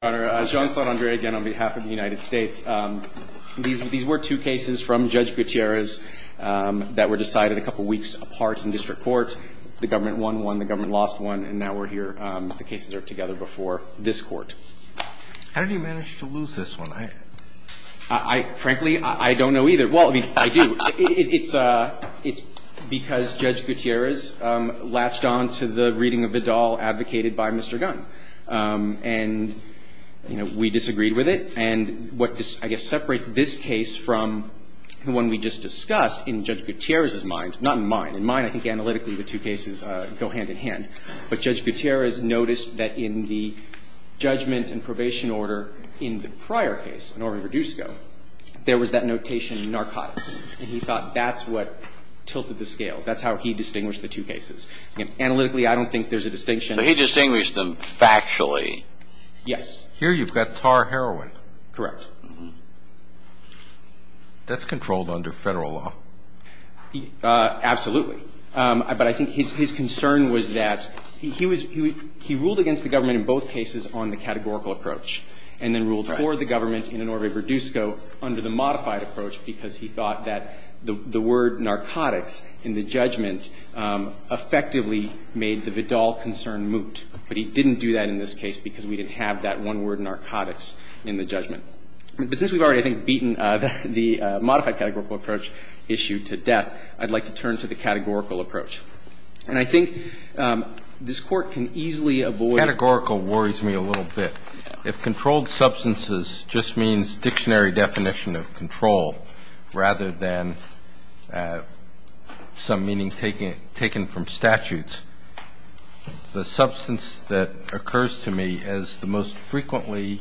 on behalf of the United States. These were two cases from Judge Gutierrez that were decided a couple weeks apart in district court. The government won one, the government lost one, and now we're here. The cases are together before this court. How did he manage to lose this one? I, frankly, I don't know either. Well, I mean, I do. It's because Judge Gutierrez latched on to the reading of Vidal advocated by Mr. Gunn. And, you know, we disagreed with it. And what I guess separates this case from the one we just discussed, in Judge Gutierrez's mind, not in mine, in mine I think analytically the two cases go hand in hand. But Judge Gutierrez noticed that in the judgment and probation order in the prior case, an order reduced ago, there was that notation narcotics. And he thought that's what tilted the scale. That's how he distinguished the two cases. Analytically, I don't think there's a distinction. But he distinguished them factually. Yes. Here you've got tar heroin. Correct. That's controlled under Federal law. Absolutely. But I think his concern was that he ruled against the government in both cases on the categorical approach and then ruled for the government in an order reduced ago under the modified approach because he thought that the word narcotics in the judgment effectively made the Vidal concern moot. But he didn't do that in this case because we didn't have that one word narcotics in the judgment. But since we've already, I think, beaten the modified categorical approach issue to death, I'd like to turn to the categorical approach. And I think this Court can easily avoid the Categorical worries me a little bit. If controlled substances just means dictionary definition of control rather than some meaning taken from statutes, the substance that occurs to me as the most frequently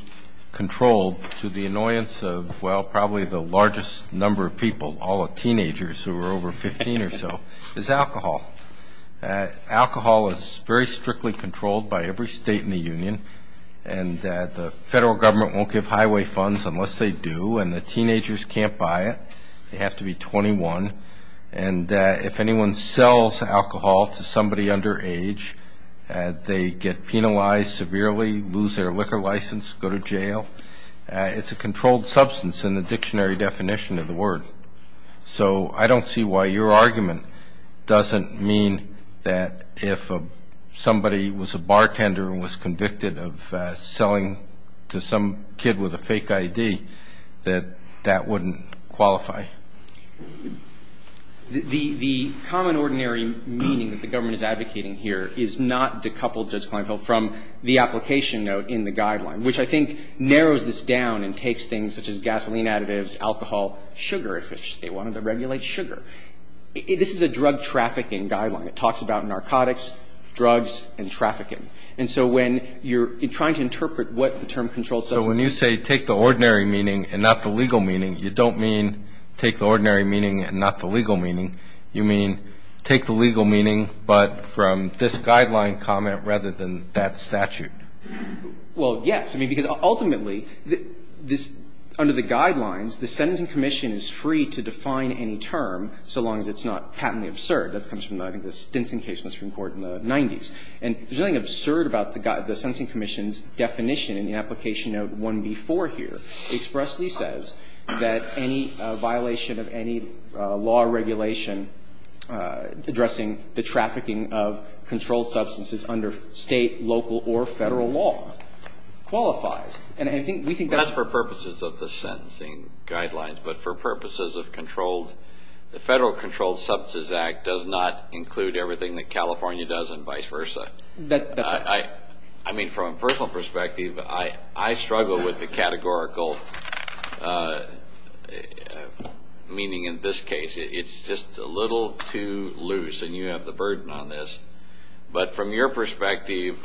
controlled to the annoyance of, well, probably the largest number of people, all the teenagers who are over 15 or so, is alcohol. Alcohol is very strictly controlled by every state in the union. And the Federal government won't give highway funds unless they do. And the teenagers can't buy it. They have to be 21. And if anyone sells alcohol to somebody under age, they get penalized severely, lose their liquor license, go to jail. It's a controlled substance in the dictionary definition of the word. So I don't see why your argument doesn't mean that if somebody was a bartender and was convicted of selling to some kid with a fake I.D., that that wouldn't qualify. The common ordinary meaning that the government is advocating here is not decoupled, Judge Kleinfeld, from the application note in the guideline, which I think narrows this down and takes things such as gasoline additives, alcohol, sugar, if they wanted to regulate sugar. This is a drug trafficking guideline. It talks about narcotics, drugs, and trafficking. And so when you're trying to interpret what the term controlled substance means. So when you say take the ordinary meaning and not the legal meaning, you don't mean take the ordinary meaning and not the legal meaning. You mean take the legal meaning but from this guideline comment rather than that statute. Well, yes. I mean, because ultimately this under the guidelines, the Sentencing Commission is free to define any term so long as it's not patently absurd. That comes from, I think, the Stinson case in the Supreme Court in the 90s. And there's nothing absurd about the Sentencing Commission's definition in the application note 1B4 here expressly says that any violation of any law or regulation addressing the trafficking of controlled substances under State, local, or Federal law qualifies. And I think we think that's. That's for purposes of the sentencing guidelines, but for purposes of controlled substances, the Federal Controlled Substances Act does not include everything that California does and vice versa. That's right. I mean, from a personal perspective, I struggle with the categorical meaning in this case. It's just a little too loose, and you have the burden on this. But from your perspective,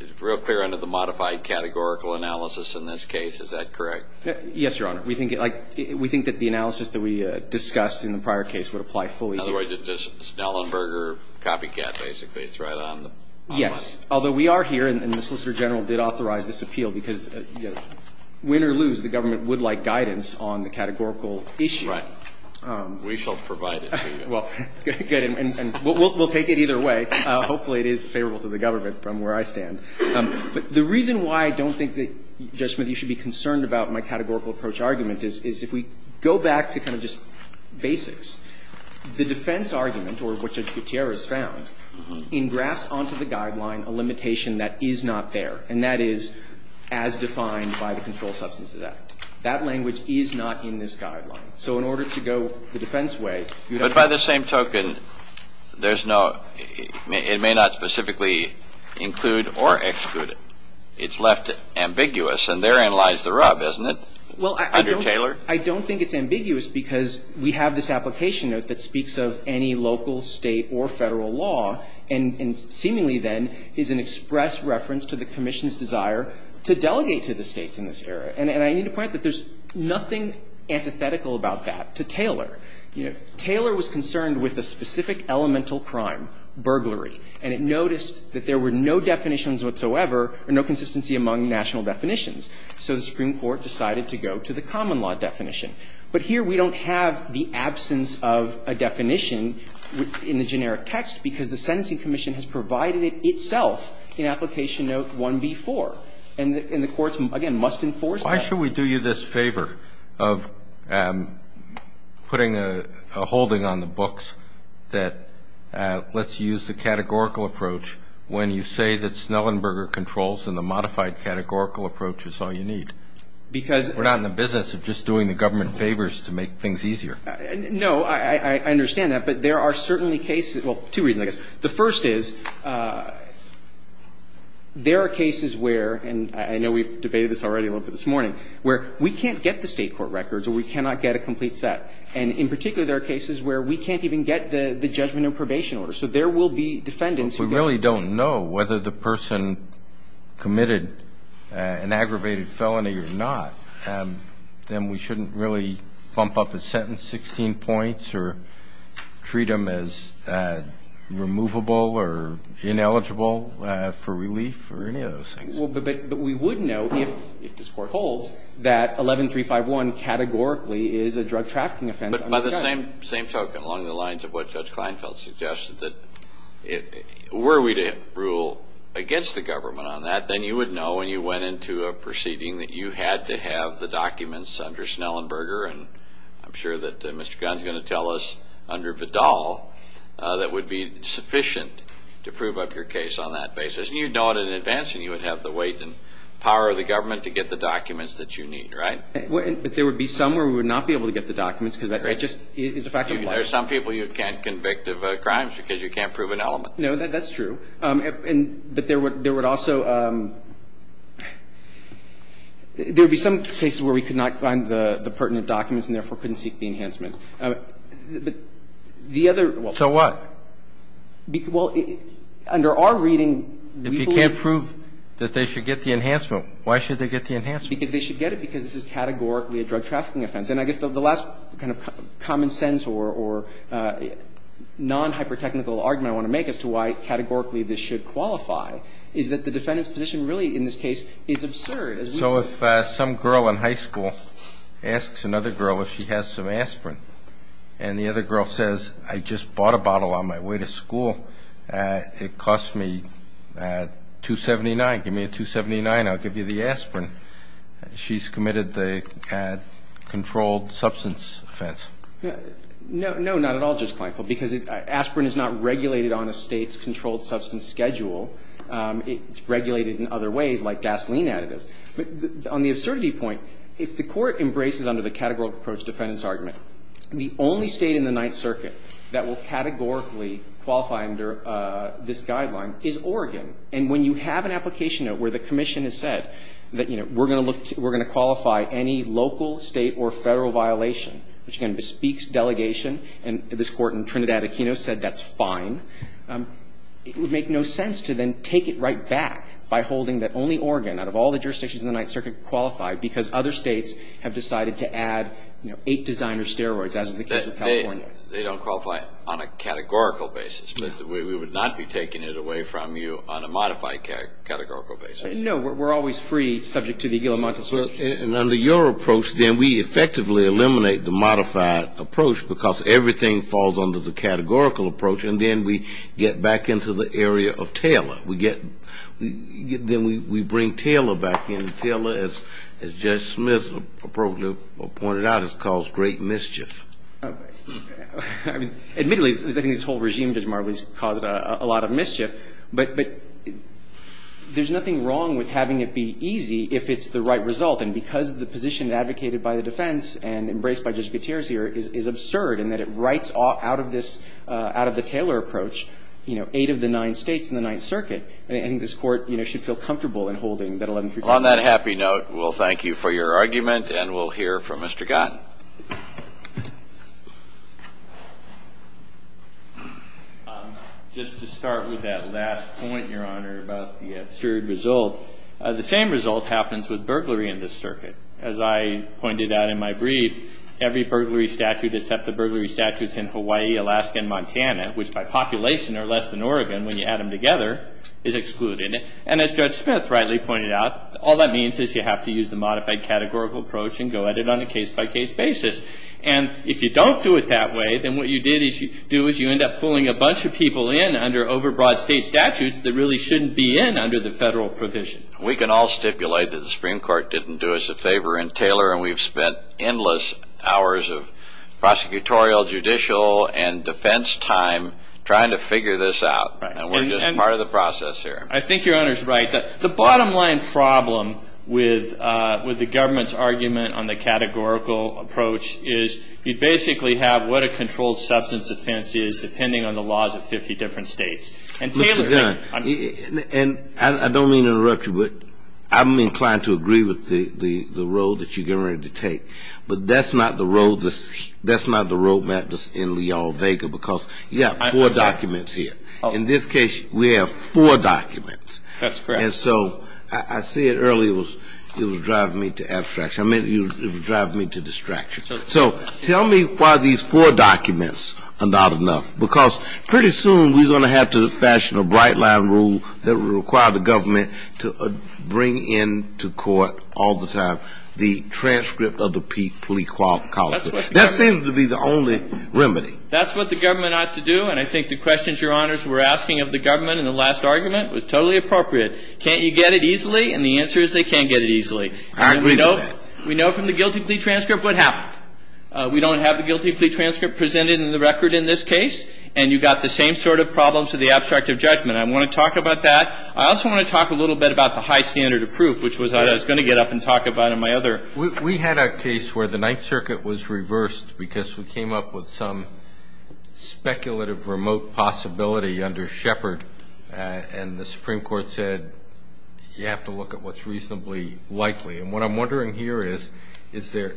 it's real clear under the modified categorical analysis in this case. Is that correct? Yes, Your Honor. We think, like, we think that the analysis that we discussed in the prior case would apply fully here. In other words, it's a Snellenberger copycat, basically. It's right on the line. Yes. Although we are here, and the Solicitor General did authorize this appeal, because win or lose, the government would like guidance on the categorical issue. Right. We shall provide it to you. Well, good. And we'll take it either way. Hopefully it is favorable to the government from where I stand. But the reason why I don't think that, Judge Smith, you should be concerned about my categorical approach argument is if we go back to kind of just basics, the defense argument, or what Judge Gutierrez found, engrafts onto the guideline a limitation that is not there, and that is as defined by the Controlled Substances Act. That language is not in this guideline. So in order to go the defense way, you'd have to go the defense way. But by the same token, there's no – it may not specifically include or exclude. It's left ambiguous, and therein lies the rub, isn't it, under Taylor? Well, I don't think it's ambiguous because we have this application note that speaks of any local, State, or Federal law, and seemingly, then, is an express reference to the Commission's desire to delegate to the States in this area. And I need to point out that there's nothing antithetical about that to Taylor. You know, Taylor was concerned with a specific elemental crime, burglary, and it noticed that there were no definitions whatsoever or no consistency among national definitions. So the Supreme Court decided to go to the common law definition. But here we don't have the absence of a definition in the generic text because the Sentencing Commission has provided it itself in Application Note 1b-4. And the courts, again, must enforce that. Why should we do you this favor of putting a holding on the books that lets you use a categorical approach when you say that Snellenberger controls and the modified categorical approach is all you need? Because we're not in the business of just doing the government favors to make things easier. No, I understand that. But there are certainly cases, well, two reasons, I guess. The first is there are cases where, and I know we've debated this already a little bit this morning, where we can't get the State court records or we cannot get a complete set. And in particular, there are cases where we can't even get the judgment and probation order. So there will be defendants who get that. But we really don't know whether the person committed an aggravated felony or not. Then we shouldn't really bump up a sentence 16 points or treat them as removable or ineligible for relief or any of those things. But we would know, if this Court holds, that 11351 categorically is a drug trafficking offense under the gun. By the same token, along the lines of what Judge Kleinfeld suggested, that were we to rule against the government on that, then you would know when you went into a proceeding that you had to have the documents under Schnellenberger and I'm sure that Mr. Gunn is going to tell us under Vidal that would be sufficient to prove up your case on that basis. And you'd know it in advance and you would have the weight and power of the government to get the documents that you need, right? But there would be some where we would not be able to get the documents because that just is a fact of life. There are some people you can't convict of crimes because you can't prove an element. No, that's true. But there would also be some cases where we could not find the pertinent documents and therefore couldn't seek the enhancement. The other one. So what? Well, under our reading, we believe. If you can't prove that they should get the enhancement, why should they get the enhancement? Because they should get it because this is categorically a drug trafficking offense. And I guess the last kind of common sense or nonhypertechnical argument I want to make as to why categorically this should qualify is that the defendant's position really in this case is absurd. So if some girl in high school asks another girl if she has some aspirin and the other girl says, I just bought a bottle on my way to school, it cost me $2.79, give me $2.79, I'll give you the aspirin, she's committed the controlled substance offense. No. No, not at all, Justice Kleinfeld, because aspirin is not regulated on a State's controlled substance schedule. It's regulated in other ways, like gasoline additives. But on the absurdity point, if the Court embraces under the categorical approach defendant's argument, the only State in the Ninth Circuit that will categorically qualify under this guideline is Oregon. And when you have an application note where the Commission has said that, you know, we're going to qualify any local, State, or Federal violation, which again bespeaks delegation, and this Court in Trinidad Aquino said that's fine, it would make no sense to then take it right back by holding that only Oregon out of all the jurisdictions in the Ninth Circuit qualified because other States have decided to add, you know, eight designer steroids, as is the case with California. They don't qualify on a categorical basis, but we would not be taking it away from you on a modified categorical basis. No. We're always free, subject to the guillemot de certitude. And under your approach, then we effectively eliminate the modified approach because everything falls under the categorical approach, and then we get back into the area of Taylor. We get – then we bring Taylor back in. Taylor, as Judge Smith appropriately pointed out, has caused great mischief. I mean, admittedly, I think this whole regime, Judge Marwood, has caused a lot of mischief. But there's nothing wrong with having it be easy if it's the right result. And because the position advocated by the defense and embraced by Judge Gutierrez here is absurd in that it writes out of this – out of the Taylor approach, you know, eight of the nine States in the Ninth Circuit. And I think this Court, you know, should feel comfortable in holding that 1135. On that happy note, we'll thank you for your argument, and we'll hear from Mr. Gott. Just to start with that last point, Your Honor, about the absurd result, the same result happens with burglary in this circuit. As I pointed out in my brief, every burglary statute except the burglary statutes in Hawaii, Alaska, and Montana, which by population are less than Oregon when you add them together, is excluded. And as Judge Smith rightly pointed out, all that means is you have to use the modified categorical approach and go at it on a case-by-case basis. And if you don't do it that way, then what you do is you end up pulling a bunch of people in under overbroad state statutes that really shouldn't be in under the federal provision. We can all stipulate that the Supreme Court didn't do us a favor in Taylor, and we've spent endless hours of prosecutorial, judicial, and defense time trying to figure this out. And we're just part of the process here. I think Your Honor's right. The bottom-line problem with the government's argument on the categorical approach is you basically have what a controlled substance offense is depending on the laws of 50 different states. And Taylor thinks the same. Mr. Gunn, and I don't mean to interrupt you, but I'm inclined to agree with the road that you're getting ready to take, but that's not the road map that's in Leal-Vega because you have four documents here. In this case, we have four documents. That's correct. And so I said earlier it was driving me to abstraction. I meant it was driving me to distraction. So tell me why these four documents are not enough, because pretty soon we're going to have to fashion a bright-line rule that will require the government to bring in to court all the time the transcript of the Pete Poliquin College. That seems to be the only remedy. That's what the government ought to do, and I think the questions Your Honors were asking of the government in the last argument was totally appropriate. Can't you get it easily? And the answer is they can't get it easily. I agree with that. We know from the guilty plea transcript what happened. We don't have the guilty plea transcript presented in the record in this case, and you've got the same sort of problems with the abstract of judgment. I want to talk about that. I also want to talk a little bit about the high standard of proof, which was what I was going to get up and talk about in my other. We had a case where the Ninth Circuit was reversed because we came up with some speculative remote possibility under Shepard, and the Supreme Court said you have to look at what's reasonably likely. And what I'm wondering here is, is it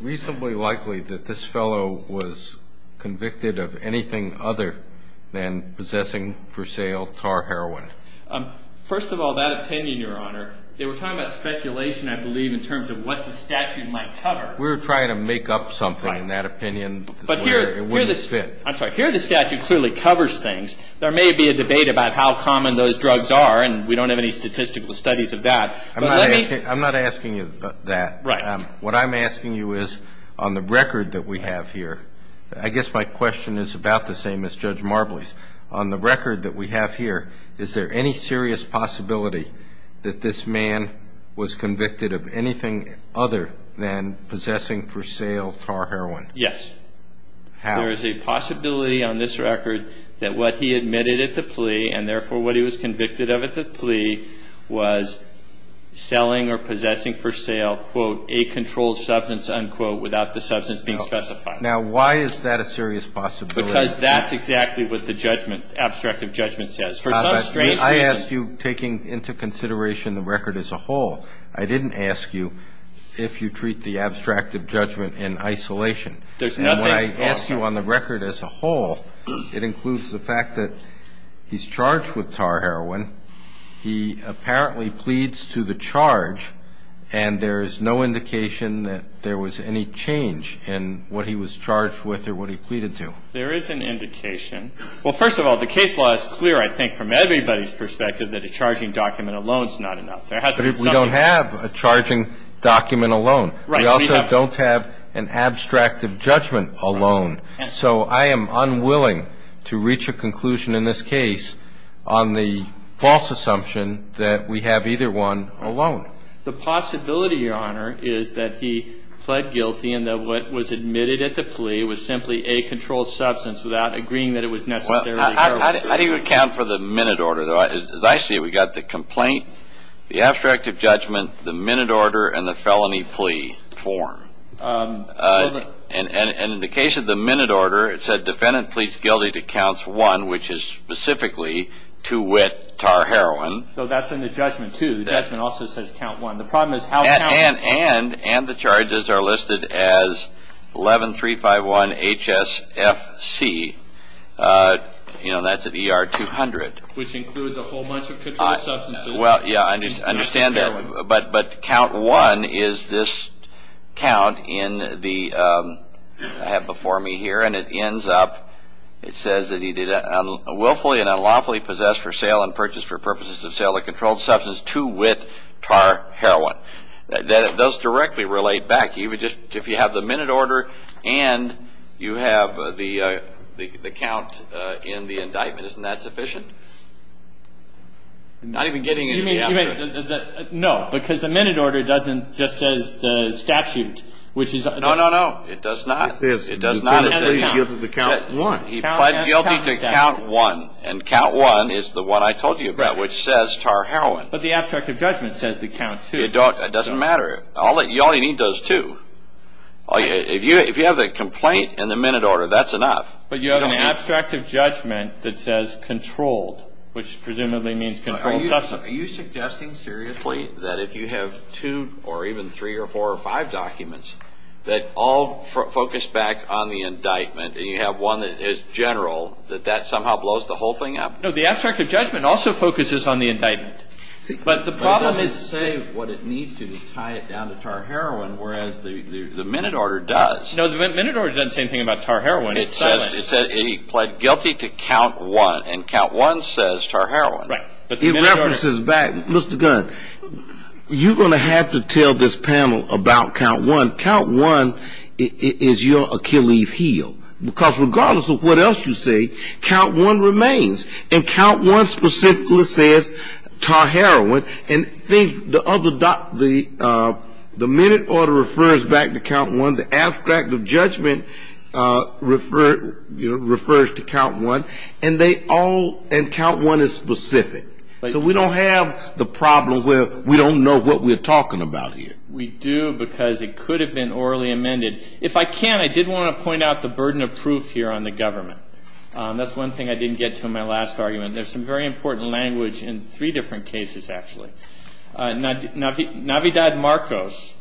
reasonably likely that this fellow was convicted of anything other than possessing for sale tar heroin? First of all, that opinion, Your Honor, they were talking about speculation, I believe, in terms of what the statute might cover. We were trying to make up something in that opinion where it wouldn't fit. I'm sorry, here the statute clearly covers things. There may be a debate about how common those drugs are, and we don't have any statistical studies of that. I'm not asking you that. Right. What I'm asking you is, on the record that we have here, I guess my question is about the same as Judge Marbley's. On the record that we have here, is there any serious possibility that this man was convicted of anything other than possessing for sale tar heroin? Yes. How? There is a possibility on this record that what he admitted at the plea, and therefore what he was convicted of at the plea, was selling or possessing for sale, quote, a controlled substance, unquote, without the substance being specified. Now, why is that a serious possibility? Because that's exactly what the judgment, abstract of judgment, says. For some strange reason. I asked you, taking into consideration the record as a whole, I didn't ask you if you treat the abstract of judgment in isolation. And when I ask you on the record as a whole, it includes the fact that he's charged with tar heroin, he apparently pleads to the charge, and there is no indication that there was any change in what he was charged with or what he pleaded to. There is an indication. Well, first of all, the case law is clear, I think, from everybody's perspective, that a charging document alone is not enough. But we don't have a charging document alone. Right. We also don't have an abstract of judgment alone. Right. So I am unwilling to reach a conclusion in this case on the false assumption that we have either one alone. The possibility, Your Honor, is that he pled guilty and that what was admitted at the plea was simply a controlled substance without agreeing that it was necessarily heroin. How do you account for the minute order? As I see it, we've got the complaint, the abstract of judgment, the minute order, and the felony plea form. And in the case of the minute order, it said defendant pleads guilty to counts one, which is specifically to wit tar heroin. So that's in the judgment, too. The judgment also says count one. The problem is how to count one. And the charges are listed as 11351HSFC. You know, that's at ER 200. Which includes a whole bunch of controlled substances. Well, yeah, I understand that. But count one is this count in the, I have before me here, and it ends up, it says that he did willfully and unlawfully possess for sale and purchase for purposes of sale of controlled substance to wit tar heroin. That does directly relate back. If you have the minute order and you have the count in the indictment, isn't that sufficient? Not even getting into the abstract. No, because the minute order doesn't just say the statute. No, no, no. It does not. It says defendant pleads guilty to count one. He pled guilty to count one. And count one is the one I told you about, which says tar heroin. But the abstract of judgment says the count, too. It doesn't matter. You only need those two. If you have the complaint and the minute order, that's enough. But you have an abstract of judgment that says controlled, which presumably means controlled substance. Are you suggesting seriously that if you have two or even three or four or five documents that all focus back on the indictment and you have one that is general, that that somehow blows the whole thing up? No, the abstract of judgment also focuses on the indictment. But the problem is to say what it means to tie it down to tar heroin, whereas the minute order does. No, the minute order doesn't say anything about tar heroin. It says he pled guilty to count one. And count one says tar heroin. Right. It references back. Mr. Gunn, you're going to have to tell this panel about count one. Count one is your Achilles heel. Because regardless of what else you say, count one remains. And count one specifically says tar heroin. And the minute order refers back to count one. The abstract of judgment refers to count one. And count one is specific. So we don't have the problem where we don't know what we're talking about here. We do because it could have been orally amended. If I can, I did want to point out the burden of proof here on the government. That's one thing I didn't get to in my last argument. There's some very important language in three different cases, actually. Navidad Marcos,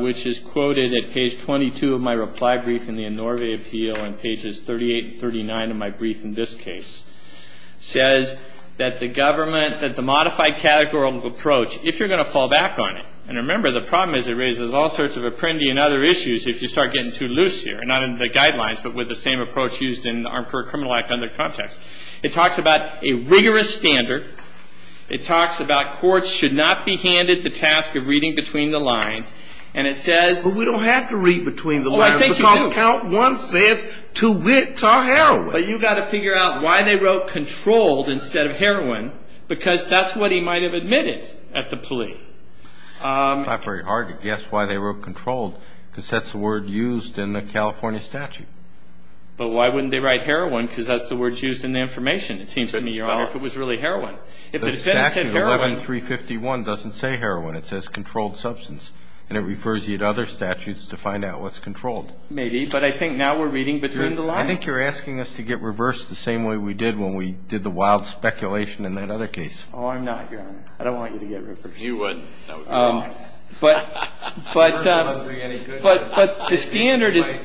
which is quoted at page 22 of my reply brief in the Enorve Appeal and pages 38 and 39 of my brief in this case, says that the government, that the modified categorical approach, if you're going to fall back on it, and remember the problem is it raises all sorts of Apprendi and other issues if you start getting too loose here, not in the guidelines but with the same approach used in the Armed Career Criminal Act under context. It talks about a rigorous standard. It talks about courts should not be handed the task of reading between the lines. And it says we don't have to read between the lines because count one says tar heroin. But you've got to figure out why they wrote controlled instead of heroin because that's what he might have admitted at the plea. It's not very hard to guess why they wrote controlled because that's the word used in the California statute. But why wouldn't they write heroin because that's the word used in the information, it seems to me, Your Honor, if it was really heroin. The statute 11351 doesn't say heroin. It says controlled substance, and it refers you to other statutes to find out what's controlled. Maybe, but I think now we're reading between the lines. I think you're asking us to get reversed the same way we did when we did the wild speculation in that other case. Oh, I'm not, Your Honor. I don't want you to get reversed. You wouldn't. That would be wrong. But the standard is. You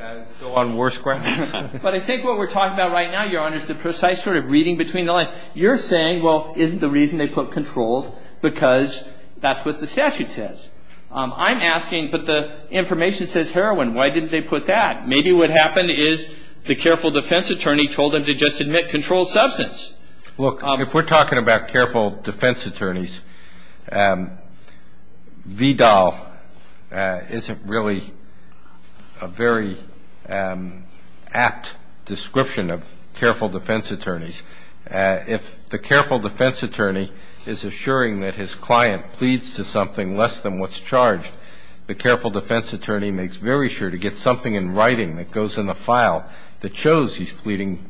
might go on worse ground. But I think what we're talking about right now, Your Honor, is the precise sort of reading between the lines. You're saying, well, isn't the reason they put controlled because that's what the statute says. I'm asking, but the information says heroin. Why didn't they put that? Maybe what happened is the careful defense attorney told them to just admit controlled substance. Look, if we're talking about careful defense attorneys, VDAL isn't really a very apt description of careful defense attorneys. If the careful defense attorney is assuring that his client pleads to something less than what's charged, the careful defense attorney makes very sure to get something in writing that goes in the file that shows he's pleading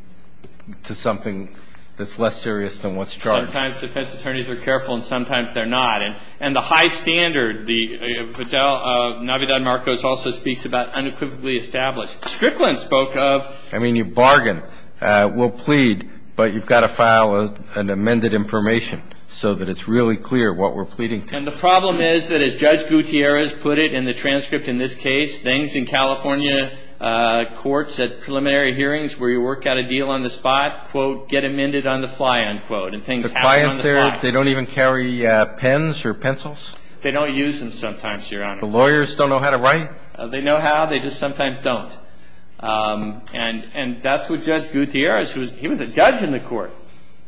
to something that's less serious than what's charged. Sometimes defense attorneys are careful and sometimes they're not. And the high standard, the VDAL, Navidad Marcos, also speaks about unequivocally established. Strickland spoke of. I mean, you bargain. We'll plead, but you've got to file an amended information so that it's really clear what we're pleading to. And the problem is that, as Judge Gutierrez put it in the transcript in this case, things in California courts at preliminary hearings where you work out a deal on the spot, quote, get amended on the fly, unquote, and things happen on the fly. The clients there, they don't even carry pens or pencils? They don't use them sometimes, Your Honor. The lawyers don't know how to write? They know how. They just sometimes don't. And that's what Judge Gutierrez was. He was a judge in the court,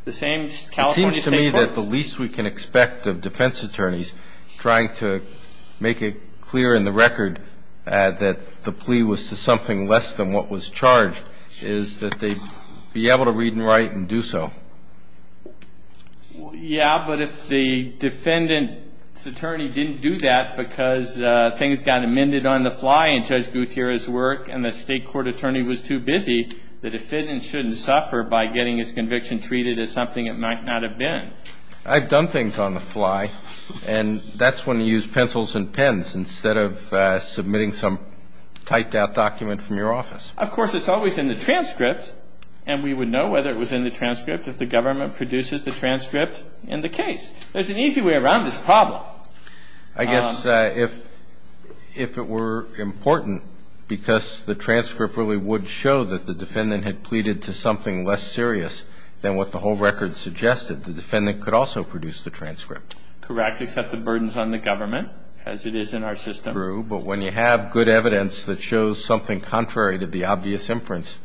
the same California State courts. It seems to me that the least we can expect of defense attorneys trying to make it clear in the record that the plea was to something less than what was charged is that they be able to read and write and do so. Yeah, but if the defendant's attorney didn't do that because things got amended on the fly in Judge Gutierrez's work and the state court attorney was too busy, the defendant shouldn't suffer by getting his conviction treated as something it might not have been. I've done things on the fly, and that's when you use pencils and pens instead of submitting some typed-out document from your office. Of course, it's always in the transcript, and we would know whether it was in the transcript if the government produces the transcript in the case. There's an easy way around this problem. I guess if it were important, because the transcript really would show that the defendant had pleaded to something less serious than what the whole record suggested, the defendant could also produce the transcript. Correct, except the burden's on the government, as it is in our system. True, but when you have good evidence that shows something contrary to the obvious inference,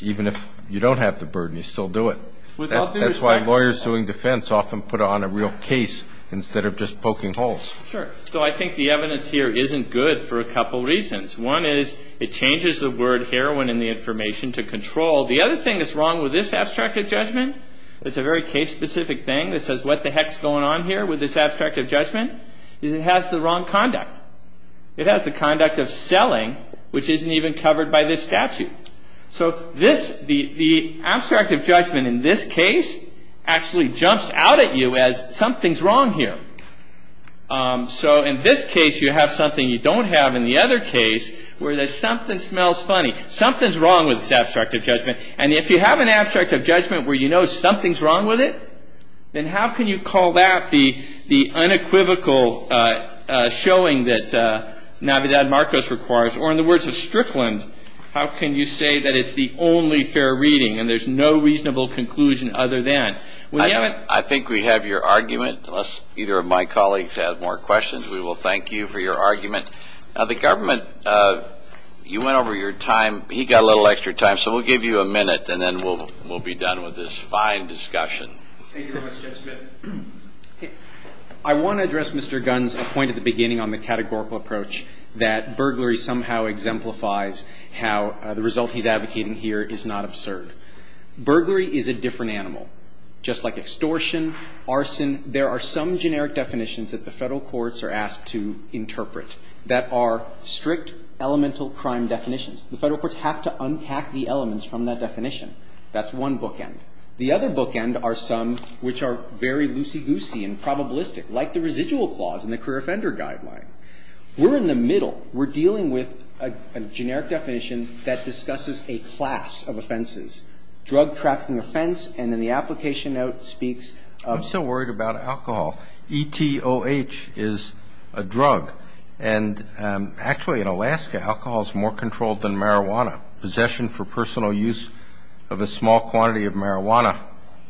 even if you don't have the burden, you still do it. That's why lawyers doing defense often put on a real case instead of just poking holes. Sure, so I think the evidence here isn't good for a couple reasons. One is it changes the word heroin in the information to control. The other thing that's wrong with this abstract of judgment, it's a very case-specific thing that says what the heck's going on here with this abstract of judgment, is it has the wrong conduct. It has the conduct of selling, which isn't even covered by this statute. So the abstract of judgment in this case actually jumps out at you as something's wrong here. So in this case, you have something you don't have in the other case where there's something smells funny. Something's wrong with this abstract of judgment. And if you have an abstract of judgment where you know something's wrong with it, then how can you call that the unequivocal showing that Navidad Marcos requires? Or in the words of Strickland, how can you say that it's the only fair reading and there's no reasonable conclusion other than? I think we have your argument. Unless either of my colleagues has more questions, we will thank you for your argument. Now, the government, you went over your time. He got a little extra time. So we'll give you a minute and then we'll be done with this fine discussion. Thank you very much, Judge Smith. I want to address Mr. Gunn's point at the beginning on the categorical approach that burglary somehow exemplifies how the result he's advocating here is not absurd. Burglary is a different animal, just like extortion, arson. There are some generic definitions that the Federal courts are asked to interpret that are strict elemental crime definitions. The Federal courts have to unpack the elements from that definition. That's one bookend. The other bookend are some which are very loosey-goosey and probabilistic, like the residual clause in the career offender guideline. We're in the middle. We're dealing with a generic definition that discusses a class of offenses, drug trafficking offense, and then the application note speaks of the. I'm still worried about alcohol. E-T-O-H is a drug. And actually in Alaska, alcohol is more controlled than marijuana. Possession for personal use of a small quantity of marijuana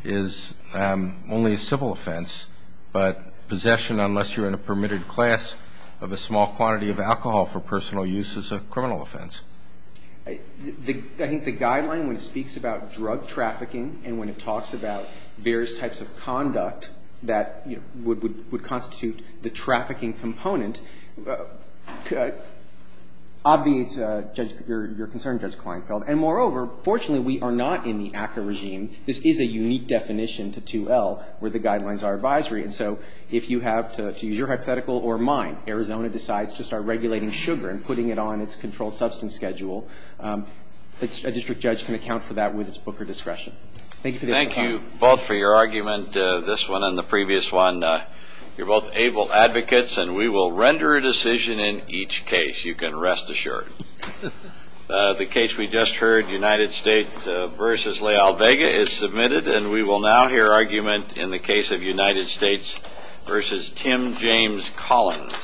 is only a civil offense. But possession, unless you're in a permitted class of a small quantity of alcohol for personal use, is a criminal offense. I think the guideline, when it speaks about drug trafficking and when it talks about various types of conduct that would constitute the trafficking component, obviates your concern, Judge Kleinfeld. And moreover, fortunately, we are not in the ACCA regime. This is a unique definition to 2L where the guidelines are advisory. And so if you have to use your hypothetical or mine, Arizona decides to start regulating sugar and putting it on its controlled substance schedule, a district judge can account for that with its booker discretion. Thank you for your time. Thank you both for your argument, this one and the previous one. You're both able advocates, and we will render a decision in each case, you can rest assured. The case we just heard, United States v. Leal Vega, is submitted, and we will now hear argument in the case of United States v. Tim James Collins.